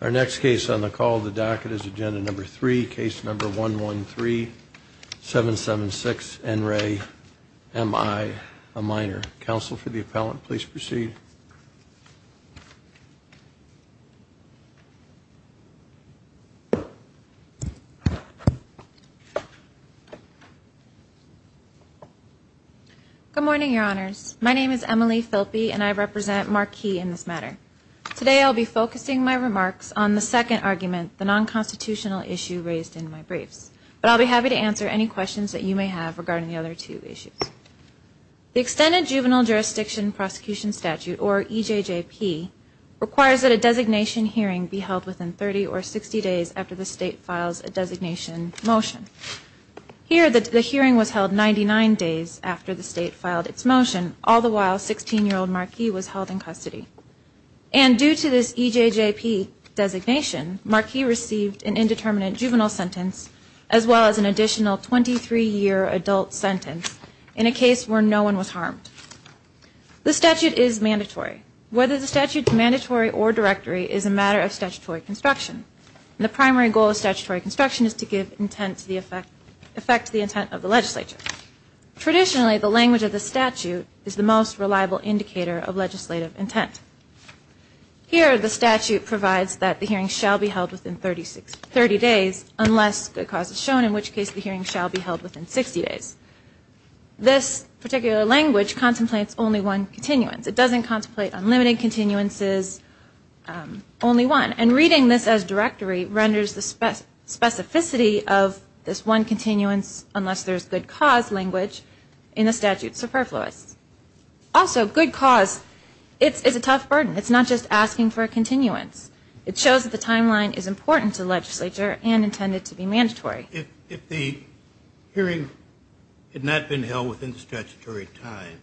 Our next case on the call the docket is agenda number three case number one one three seven seven six and ray am I a minor counsel for the appellant please proceed good morning your honors my name is Emily Phelps and I represent marquee in this matter today I'll be focusing my remarks on the second argument the non-constitutional issue raised in my briefs but I'll be happy to answer any questions that you may have regarding the other two issues the extended juvenile jurisdiction prosecution statute or EJJP requires that a designation hearing be held within 30 or 60 days after the state files a designation motion here that the hearing was held 99 days after the state filed its motion all the while sixteen-year-old marquee was held in custody and due to this EJJP designation marquee received an indeterminate juvenile sentence as well as an additional 23 year adult sentence in a case where no one was harmed the statute is mandatory whether the statute mandatory or directory is a matter of statutory construction the primary goal of statutory construction is to give intent to the effect effect the intent of traditionally the language of the statute is the most reliable indicator of legislative intent here the statute provides that the hearing shall be held within 36 30 days unless good cause is shown in which case the hearing shall be held within 60 days this particular language contemplates only one continuance it doesn't contemplate unlimited continuances only one and reading this as directory renders the spec specificity of this one continuance unless there's good cause language in the statute superfluous also good cause it's a tough burden it's not just asking for a continuance it shows that the timeline is important to legislature and intended to be mandatory if the hearing had not been held within statutory time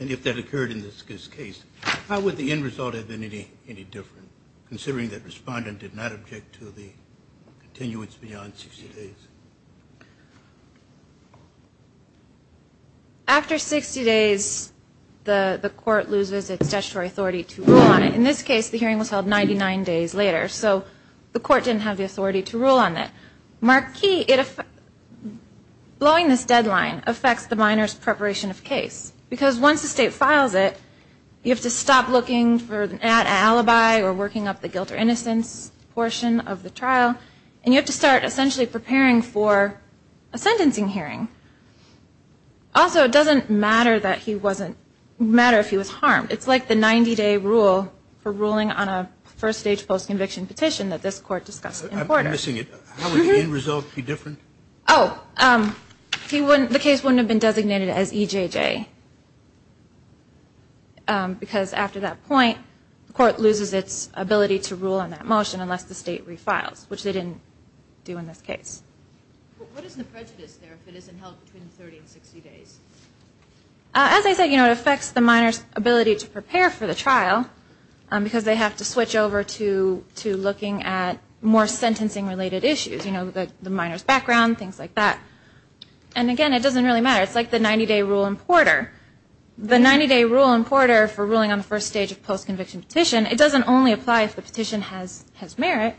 and if that occurred in this case how would the end result have been any any different considering that respondent did not object to the continuance beyond 60 days after 60 days the the court loses its statutory authority to rule on it in this case the hearing was held 99 days later so the court didn't have the authority to rule on that marquee it if blowing this deadline affects the minors preparation of case because once the state files it you have to stop looking for an alibi or working up the guilt or innocence portion of the trial and you have to start essentially preparing for a sentencing hearing also it doesn't matter that he wasn't matter if he was harmed it's like the 90-day rule for ruling on a first stage post-conviction petition that this court discussed in order seeing it result be different oh he wouldn't the case wouldn't have been designated as EJJ because after that point the court loses its ability to rule on that motion unless the state refiles which they didn't do in this case as I said you know it affects the minors ability to prepare for the trial because they have to switch over to to looking at more sentencing related issues you know that the minors background things like that and again it doesn't really matter it's like the 90-day rule in Porter the 90-day rule in Porter for ruling on the first stage of post-conviction petition it doesn't only apply if the petition has has merit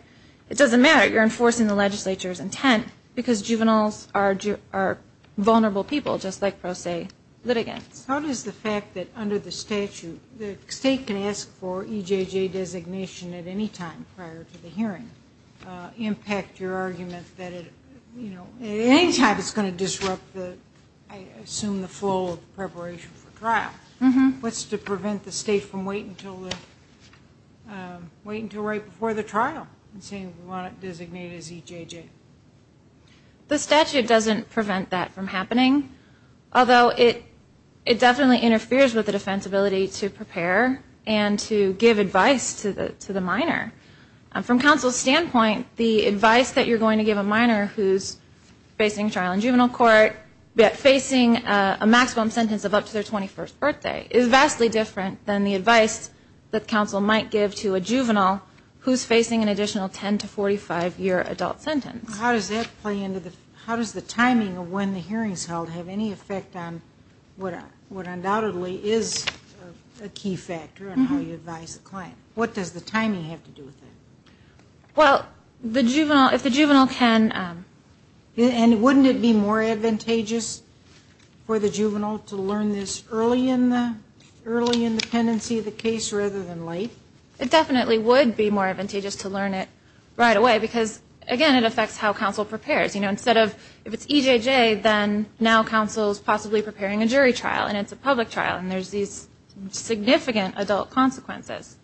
it doesn't matter you're enforcing the legislature's intent because juveniles are vulnerable people just like pro se litigants how does the fact that under the statute the state can ask for EJJ designation at any time prior to the hearing impact your argument that it you know anytime it's going to disrupt the I assume the full preparation for trial mm-hmm what's to prevent the state from waiting to wait until right before the trial and saying we want it designated as EJJ the statute doesn't prevent that from happening although it it definitely interferes with the defense ability to prepare and to give advice to the to the minor from counsel standpoint the advice that you're going to give a minor who's facing trial in juvenile court yet facing a maximum sentence of up to their 21st birthday is vastly different than the advice that counsel might give to a juvenile who's facing an additional 10 to 45 year adult sentence how does that play into the how does the timing of when the hearings held have any effect on whatever what undoubtedly is a key factor and how you advise the client what does the timing have to do with well the juvenile if the juvenile can and wouldn't it be more advantageous for the juvenile to learn this early in the early in the tendency of the case rather than late it definitely would be more advantageous to learn it right away because again it affects how counsel prepares you know instead of if it's EJJ then now counsel is possibly preparing a jury trial and it's a public trial and there's these significant adult consequences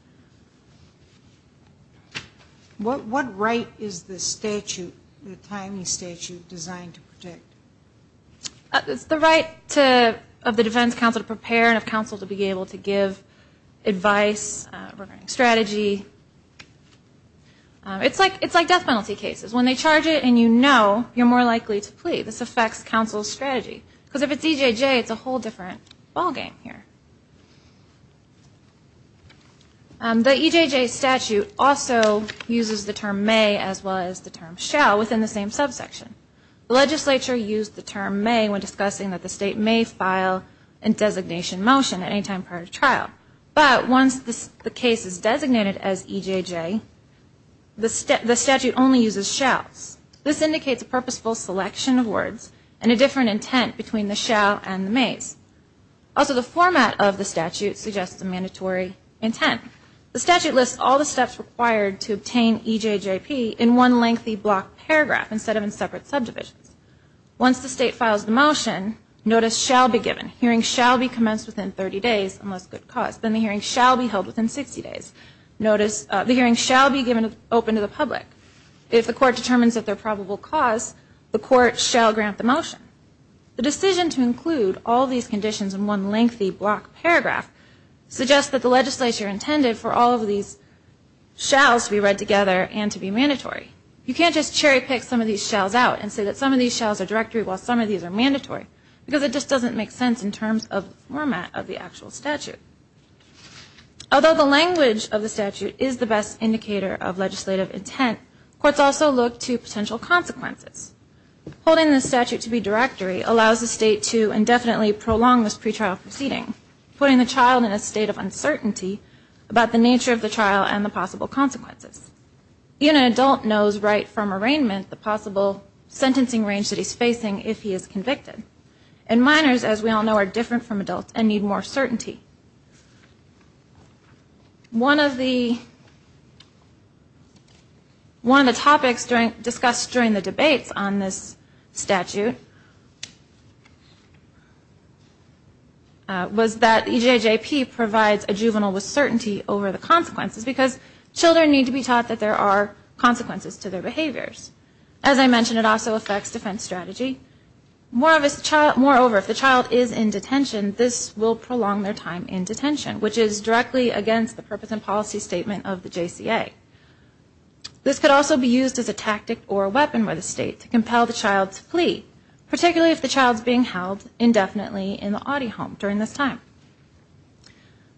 what what right is the statute the timing statute designed to protect it's the right to of the defense counsel to prepare and of counsel to be able to give advice strategy it's like it's like death penalty cases when they charge it and you know you're more likely to plea this affects counsel strategy because if it's EJJ it's a the EJJ statute also uses the term may as well as the term shall within the same subsection the legislature used the term may when discussing that the state may file and designation motion at any time prior to trial but once this the case is designated as EJJ the step the statute only uses shalls this indicates a purposeful selection of words and a different intent between the shall and mays also the format of the statute suggests a mandatory intent the statute lists all the steps required to obtain EJJP in one lengthy block paragraph instead of in separate subdivisions once the state files the motion notice shall be given hearing shall be commenced within 30 days unless good cause then the hearing shall be held within 60 days notice the hearing shall be given open to the public if the court determines that their probable cause the court shall grant the motion the decision to include all these conditions in one lengthy block paragraph suggests that the legislature intended for all of these shalls to be read together and to be mandatory you can't just cherry-pick some of these shells out and say that some of these shells are directory while some of these are mandatory because it just doesn't make sense in terms of format of the actual statute although the language of the statute is the best indicator of legislative intent courts also look to potential consequences holding the statute to be directory allows the state to indefinitely prolong this pretrial proceeding putting the child in a state of uncertainty about the nature of the trial and the possible consequences even an adult knows right from arraignment the possible sentencing range that he's facing if he is convicted and minors as we all know are different from adults and need more on this statute was that he provides a juvenile with certainty over the consequences because children need to be taught that there are consequences to their behaviors as I mentioned it also affects defense strategy more of us child moreover if the child is in detention this will prolong their time in detention which is directly against the purpose and policy statement of the this could also be used as a tactic or a weapon by the state to compel the child's plea particularly if the child's being held indefinitely in the audio home during this time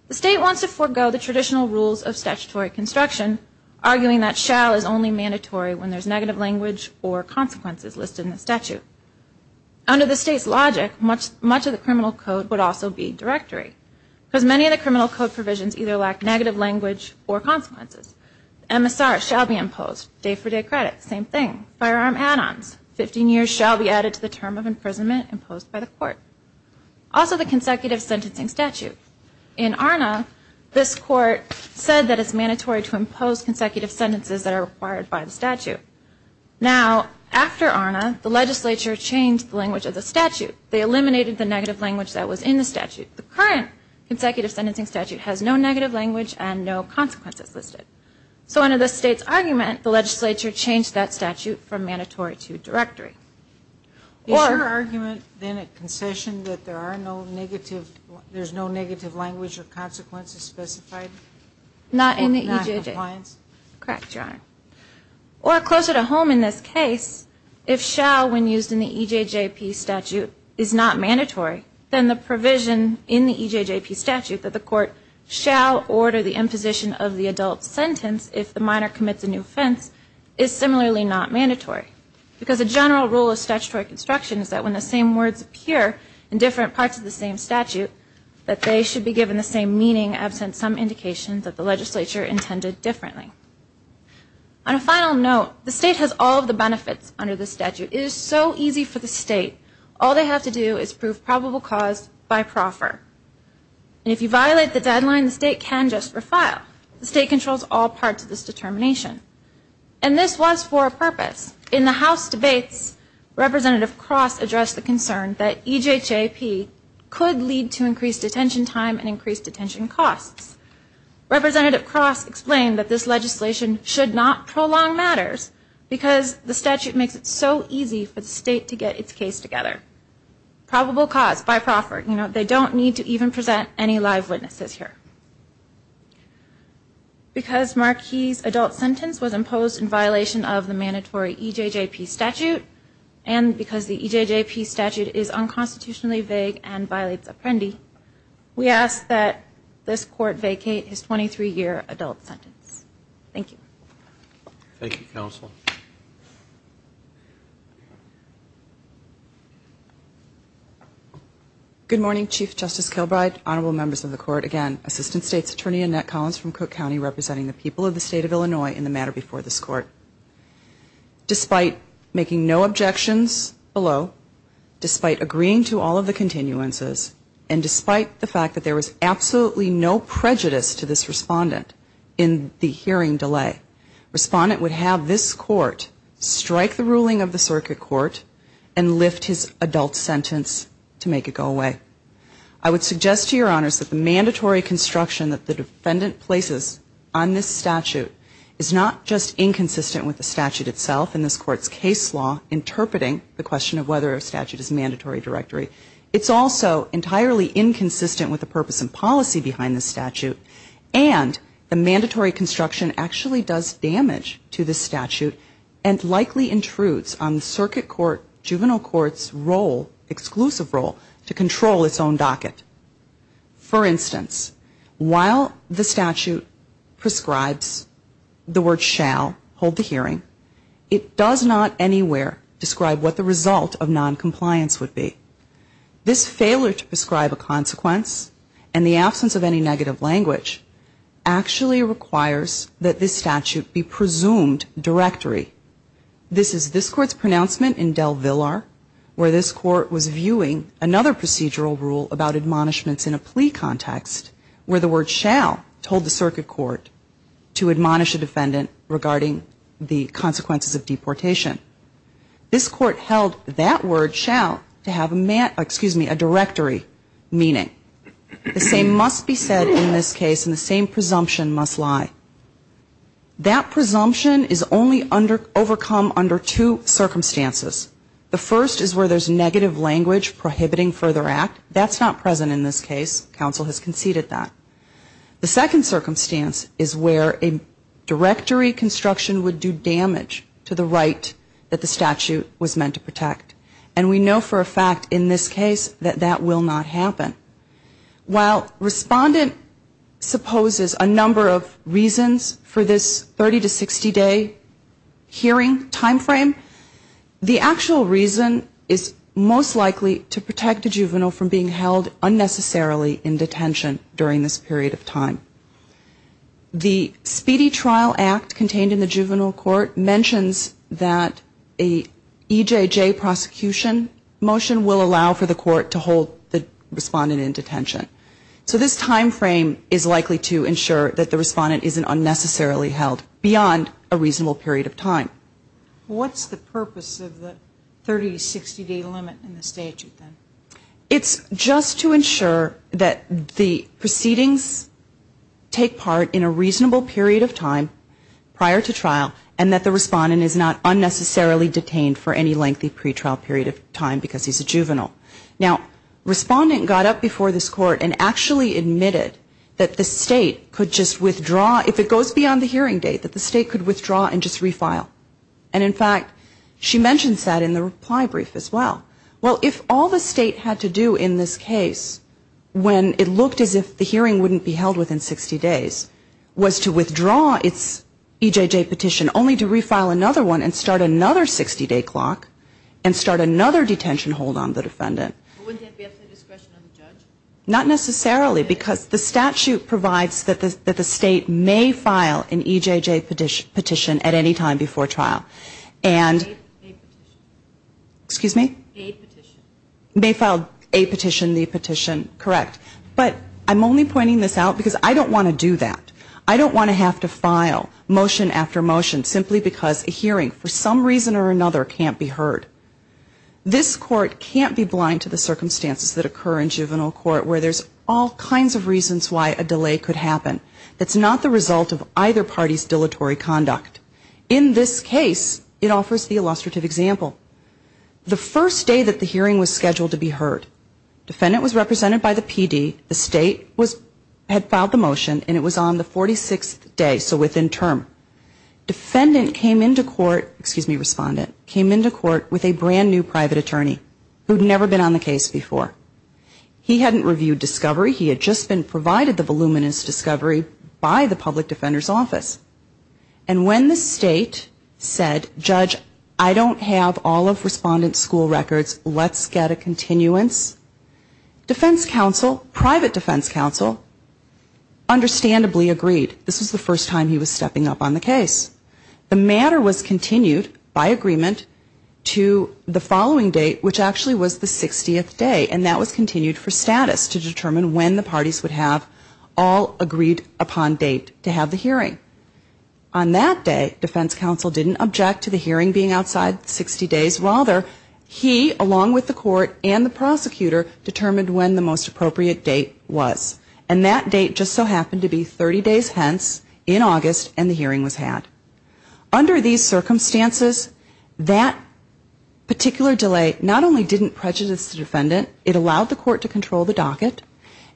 the state wants to forego the traditional rules of statutory construction arguing that shall is only mandatory when there's negative language or consequences listed in the statute under the state's logic much much of the criminal code would also be directory because many of the MSR shall be imposed day-for-day credit same thing firearm add-ons 15 years shall be added to the term of imprisonment imposed by the court also the consecutive sentencing statute in our now this court said that it's mandatory to impose consecutive sentences that are required by the statute now after on the legislature changed the language of the statute they eliminated the negative language that was in the statute the current consecutive sentencing statute has no negative language and no consequences listed so under the state's argument the legislature changed that statute from mandatory to directory or argument then a concession that there are no negative there's no negative language or consequences specified not in the age of clients cracked your or closer to home in this case if shall when used in the EJJP statute is not mandatory then the provision in the EJJP statute that the sentence if the minor commits a new offense is similarly not mandatory because the general rule of statutory construction is that when the same words appear in different parts of the same statute that they should be given the same meaning absent some indications that the legislature intended differently I don't know the state has all the benefits under the statute is so easy for the state all they have to do is prove probable cause by proffer if you violate the deadline the state can just for file the state controls all parts of this determination and this was for a purpose in the house debates representative cross addressed the concern that EJJP could lead to increased detention time and increased detention costs representative cross explained that this legislation should not prolong matters because the statute makes it so easy for the state to get its case together probable cause by live witnesses here because Marquis adult sentence was imposed in violation of the mandatory EJJP statute and because the EJJP statute is unconstitutionally vague and violates Apprendi we ask that this court vacate his 23 year adult sentence thank you thank you counsel good morning Chief Justice Kilbride honorable members of the court again assistant state's attorney Annette Collins from Cook County representing the people of the state of Illinois in the matter before this court despite making no objections below despite agreeing to all of the continuances and despite the fact that there was absolutely no prejudice to this respondent in the hearing delay respondent would have this court strike the ruling of the circuit court and lift his adult sentence to make it go away I would suggest to your honors that the mandatory construction that the defendant places on this statute is not just inconsistent with the statute itself in this court's case law interpreting the question of whether a statute is mandatory directory it's also entirely inconsistent with the purpose and policy behind the statute and the mandatory construction actually does damage to the statute and likely intrudes on the circuit court juvenile courts role exclusive role to control its own docket for instance while the statute prescribes the word shall hold the hearing it does not anywhere describe what the result of non-compliance would be this failure to prescribe a absence of any negative language actually requires that this statute be presumed directory this is this court's pronouncement in Del Villar where this court was viewing another procedural rule about admonishments in a plea context where the word shall told the circuit court to admonish a defendant regarding the consequences of deportation this court held that word excuse me a directory meaning the same must be said in this case in the same presumption must lie that presumption is only under overcome under two circumstances the first is where there's negative language prohibiting further act that's not present in this case counsel has conceded that the second circumstance is where a directory construction would do damage to the right that the statute was meant to protect and we know for a fact in this case that that will not happen while respondent supposes a number of reasons for this 30 to 60 day hearing time frame the actual reason is most likely to protect a juvenile from being held unnecessarily in detention during this period of time the speedy trial act contained in the juvenile court mentions that a EJJ prosecution motion will allow for the court to hold the respondent in detention so this time frame is likely to ensure that the respondent isn't unnecessarily held beyond a reasonable period of time what's the purpose of the 30 to 60 day limit in the statute it's just to ensure that the proceedings take part in a reasonable period of time prior to trial and that the respondent is not unnecessarily detained for any lengthy pretrial period of time because he's a juvenile respondent got up before this court and actually admitted that the state could just withdraw if it goes beyond the hearing date that the state could withdraw and just refile and in fact she mentions that in the reply brief as well well if all the state had to do in this case when it looked as if the hearing wouldn't be held within sixty days was to withdraw its EJJ petition only to refile another one and start another sixty day clock and start another detention hold on the defendant not necessarily because the statute provides that the state may file an EJJ petition at any time before trial and excuse me may file a petition the petition correct I'm only pointing this out because I don't want to do that I don't want to have to file motion after motion simply because a hearing for some reason or another can't be heard this court can't be blind to the circumstances that occur in juvenile court where there's all kinds of reasons why a delay could happen it's not the result of either party's dilatory conduct in this case it offers the illustrative example the first day that the hearing was scheduled to be heard defendant was represented by the PD the state had filed the motion and it was on the forty sixth day so within term defendant came into court excuse me respondent came into court with a brand new private attorney who'd never been on the case before he hadn't reviewed discovery he had just been provided the voluminous discovery by the public defender's office and when the state said judge I don't have all of respondent's school records let's get a continuance defense counsel private defense counsel understandably agreed this is the first time he was stepping up on the case the matter was continued by agreement to the following date which actually was the sixtieth day and that was continued for status to determine when the parties would have all agreed upon date to have the hearing on that day defense counsel didn't object to the hearing being outside sixty days rather he along with the court and the prosecutor determined when the most appropriate date was and that date just so happened to be thirty days hence in august and the hearing was had under these circumstances particular delay not only didn't prejudice the defendant it allowed the court to control the docket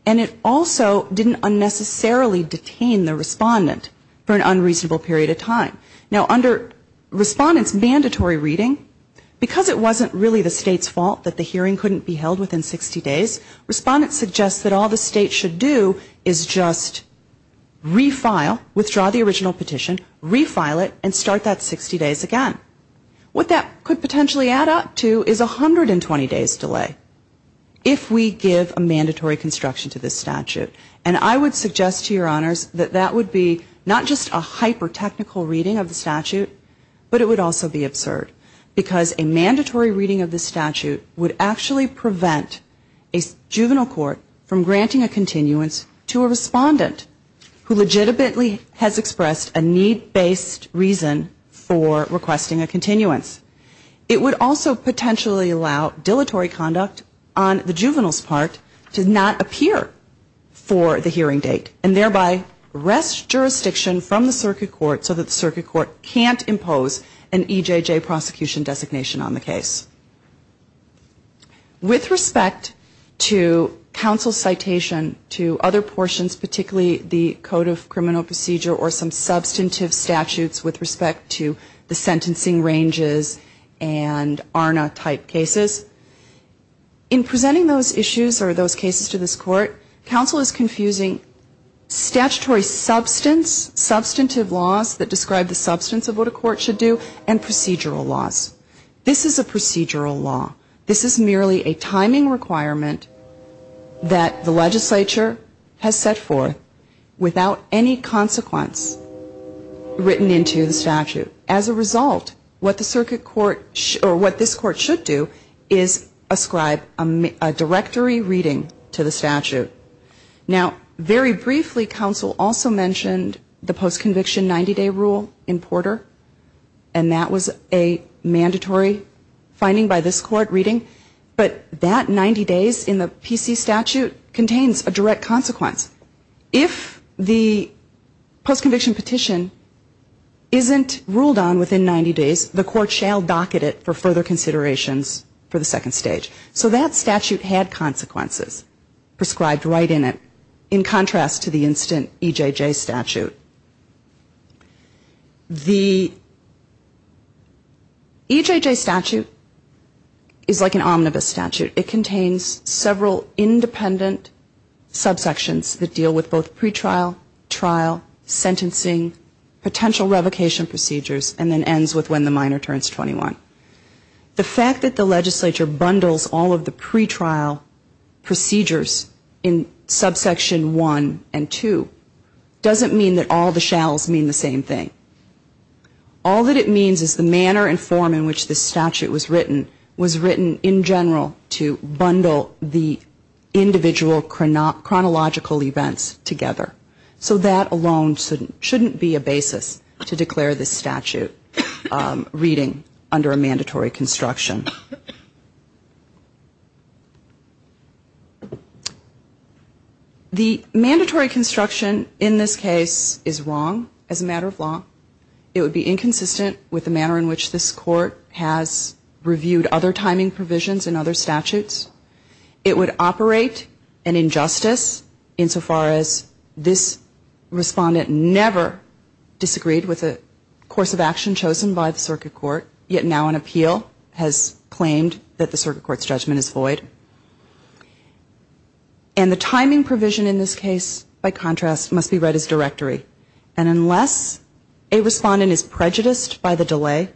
and it also didn't unnecessarily detain the respondent for an unreasonable period of time now under respondent's mandatory reading because it wasn't really the state's fault that the hearing couldn't be held within sixty days respondent suggests that all the state should do is just refile withdraw the original petition refile it and start that sixty days again what that could potentially add up to is a hundred and twenty days delay if we give a mandatory construction to this statute and i would suggest to your honors that that would be not just a hyper technical reading of the statute but it would also be absurd because a mandatory reading of the statute would actually prevent juvenile court from granting a continuance to a respondent who legitimately has expressed a need based reason for requesting a continuance it would also potentially allow dilatory conduct on the juvenile's part to not appear for the hearing date and thereby rest jurisdiction from the circuit court so that the circuit court can't impose an EJJ prosecution designation on the case with respect to council citation to other portions particularly the code of criminal procedure or some substantive statutes with respect to the sentencing ranges and arna type cases in presenting those issues or those cases to this court council is confusing statutory substance substantive laws that describe the substance of what a court should do and procedural laws this is a procedural law this is merely a timing requirement that the legislature has set forth without any consequence written into the statute as a result what the circuit court should or what this court should do is ascribe a directory reading to the statute now very briefly council also mentioned the post conviction ninety day rule in porter and that was a mandatory finding by this court reading but that ninety days in the PC statute contains a direct consequence if the post conviction petition isn't ruled on within ninety days the court shall docket it for further considerations for the second stage so that statute had consequences prescribed right in it in contrast to the instant EJJ statute the EJJ statute is like an omnibus statute it contains several independent subsections that deal with both pretrial trial sentencing potential revocation procedures and then ends with when the minor turns twenty one the fact that the legislature bundles all of the pretrial procedures in subsection one and two doesn't mean that all the shalls mean the same thing all that it means is the manner and form in which the statute was written was written in general to bundle the so that alone shouldn't be a basis to declare this statute reading under a mandatory construction the mandatory construction in this case is wrong as a matter of law it would be inconsistent with the manner in which this court has reviewed other timing provisions in other statutes it would operate an injustice insofar as this respondent never disagreed with the course of action chosen by the circuit court yet now an appeal has claimed that the circuit court's judgment is void and the timing provision in this case by contrast must be read as directory and unless a respondent is prejudiced by the delay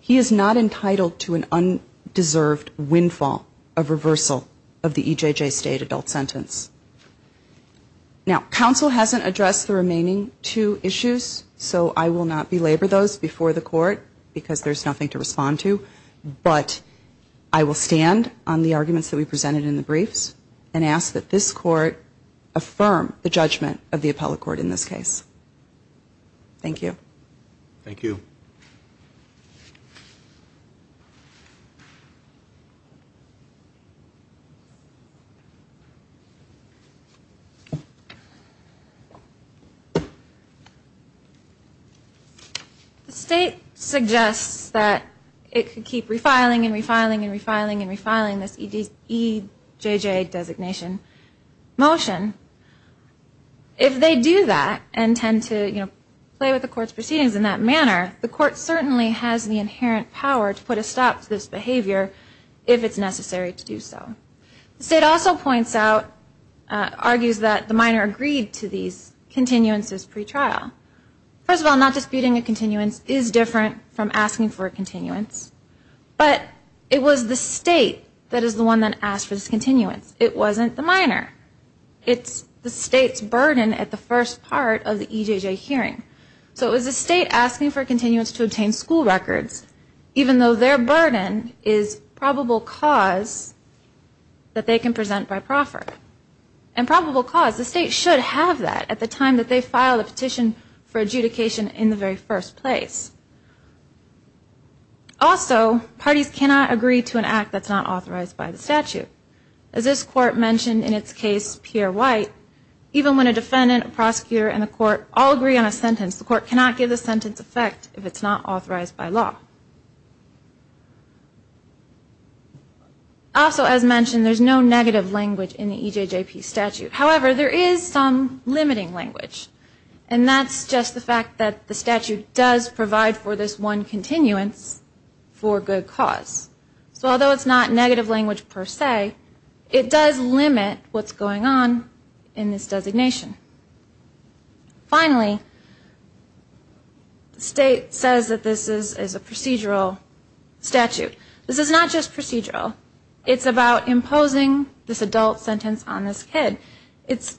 he is not entitled to an undeserved windfall of reversal of the EJJ state adult sentence now council hasn't addressed the remaining two issues so I will not belabor those before the court because there's nothing to respond to but I will stand on the arguments that we presented in the briefs and ask that this court affirm the judgment of the appellate court in this case thank you thank you thank you the state suggests that it could keep refiling and refiling and refiling and refiling this EJJ designation motion if they do that and tend to play with the court's proceedings in that manner the court certainly has the inherent power to put a stop to this behavior if it's necessary to do so the state also points out argues that the minor agreed to these continuances pre-trial first of all not disputing a continuance is different from asking for a continuance but it was the state that is the one that asked for this continuance it wasn't the minor it's the state's burden at the first part of the EJJ hearing so it was the state asking for continuance to obtain school records even though their burden is probable cause that they can present by proffer and probable cause the state should have that at the time that they filed a petition for adjudication in the very first place also parties cannot agree to an act that's not authorized by the statute as this court mentioned in its case Pierre White even when a defendant prosecutor and the court all agree on a sentence the court cannot give the sentence effect if it's not authorized by law also as mentioned there's no negative language in the EJJP statute however there is some limiting language and that's just the fact that the statute does provide for this one continuance for good cause so although it's not negative language per se it does limit what's going on in this designation finally the state says that this is a procedural statute this is not just procedural it's about imposing this adult sentence on this kid it's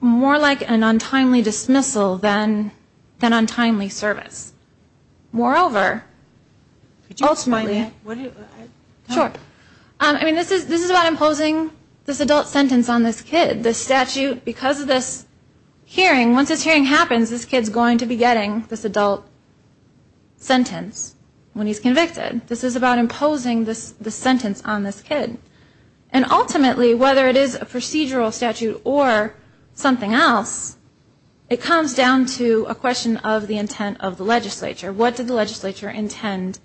more like an untimely dismissal than than untimely service moreover sure I mean this is about imposing this adult sentence on this kid this statute because of the hearing once this hearing happens this kid's going to be getting this adult sentence when he's convicted this is about imposing this sentence on this kid and ultimately whether it is a procedural statute or something else it comes down to a question of the intent of the legislature what did the legislature intend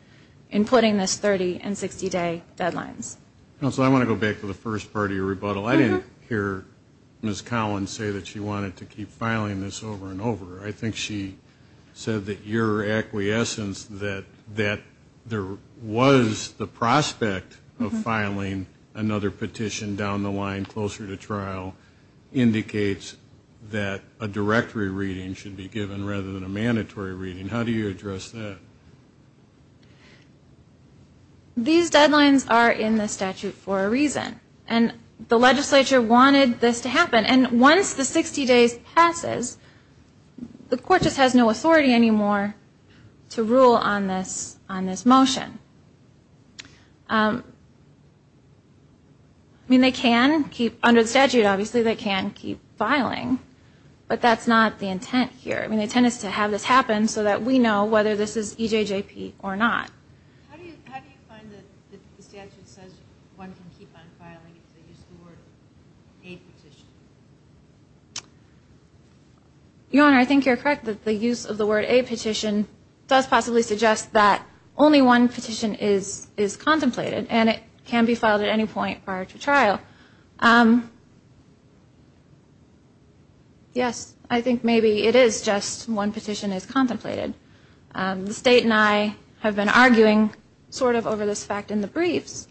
in putting this thirty and sixty day deadlines also I want to go back to the first party rebuttal I didn't hear Ms. Collins say that she wanted to keep filing this over and over I think she said that your acquiescence that that there was the prospect of filing another petition down the line closer to trial indicates that a directory reading should be given rather than a mandatory reading how do you address that these deadlines are in the statute for a reason and the legislature wanted this to happen and once the sixty days passes the court just has no authority anymore to rule on this on this motion I mean they can keep under the statute obviously they can keep filing but that's not the intent here I mean the intent is to have this happen so that we know whether this is EJJP or not how do you find that the statute says one can keep on filing if they use the word a petition your honor I think you're correct that the use of the word a petition does possibly suggest that only one petition is is contemplated and it can be filed at any point prior to trial yes I think maybe it is just one petition is contemplated the state and I have been arguing sort of over this fact in the briefs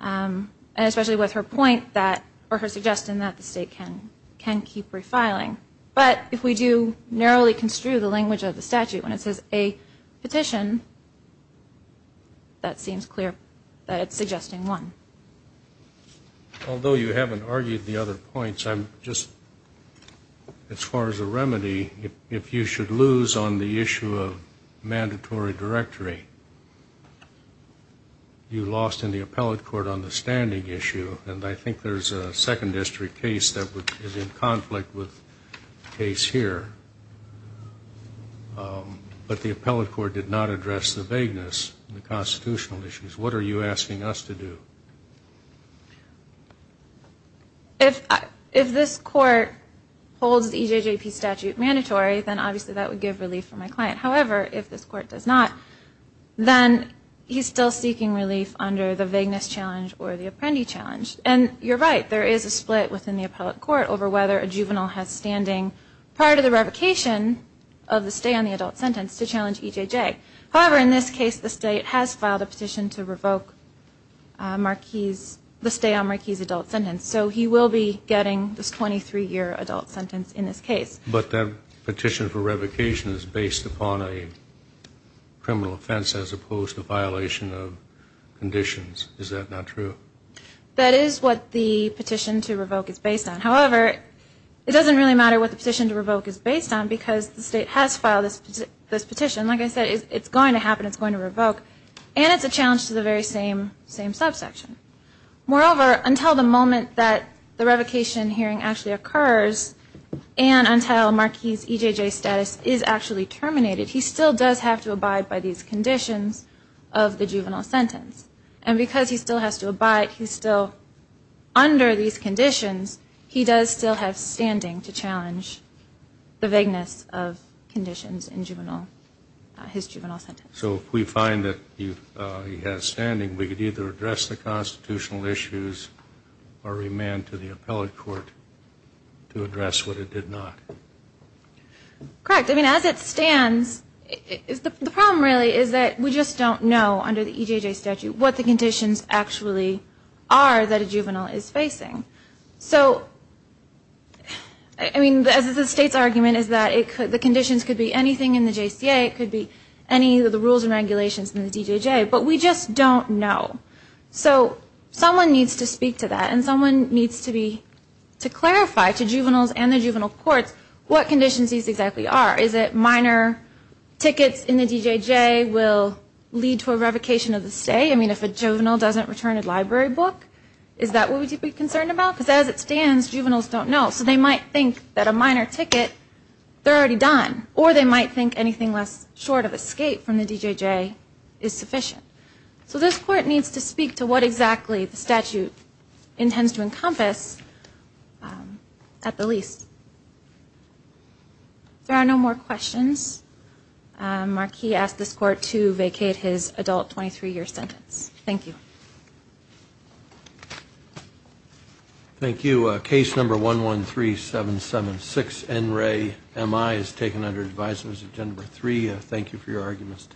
and especially with her point that or her suggestion that the state can can keep refiling but if we do narrowly construe the language of the statute when it says a petition that seems clear that it's suggesting one although you haven't argued the other points I'm just as far as the remedy if you should lose on the issue of mandatory directory you lost in the appellate court on the standing issue and I think there's a second district case that is in conflict with the case here but the appellate court did not address the vagueness the constitutional issues what are you asking us to do if if this court holds the EJJP statute mandatory then obviously that would give relief for my client however if this court does not then he's still seeking relief under the vagueness challenge or the apprendee challenge and you're right there is a split within the appellate court over whether a juvenile has standing prior to the revocation of the stay on the adult sentence to challenge EJJ however in this case the state has filed a petition to revoke Marquis the stay on Marquis adult sentence so he will be getting this 23 year adult sentence in this case but that petition for revocation is based upon a criminal offense as opposed to violation of conditions is that not true that is what the petition to revoke is based on however it doesn't really matter what the petition to revoke is based on because the state has filed this petition like I said it's going to happen it's going to revoke and it's a same same subsection moreover until the moment that the revocation hearing actually occurs and until Marquis EJJ status is actually terminated he still does have to abide by these conditions of the juvenile sentence and because he still has to abide he's still under these conditions he does still have standing to challenge the vagueness of conditions in juvenile his juvenile sentence so we find that he has standing we could either address the constitutional issues or remand to the appellate court to address what it did not correct I mean as it stands is the problem really is that we just don't know under the EJJ statute what the conditions actually are that a juvenile is facing so I mean as the state's argument is that it could the conditions could be anything in the JCA it could be any of the rules and regulations in the EJJ but we just don't know so someone needs to speak to that and someone needs to be to clarify to juveniles and the juvenile courts what conditions these exactly are is it minor tickets in the EJJ will lead to a revocation of the stay I mean if a juvenile doesn't return a library book is that what we should be concerned about because as it stands juveniles don't know so they might think that a minor ticket they're already done or they might think anything less short of escape from the DJJ is sufficient so this court needs to speak to what exactly the statute intends to encompass at the least there are no more questions mark he asked this court to vacate his adult 23 year sentence thank you thank you case number one one three seven seven six and Ray M.I. is taken under advisers agenda three thank you for your arguments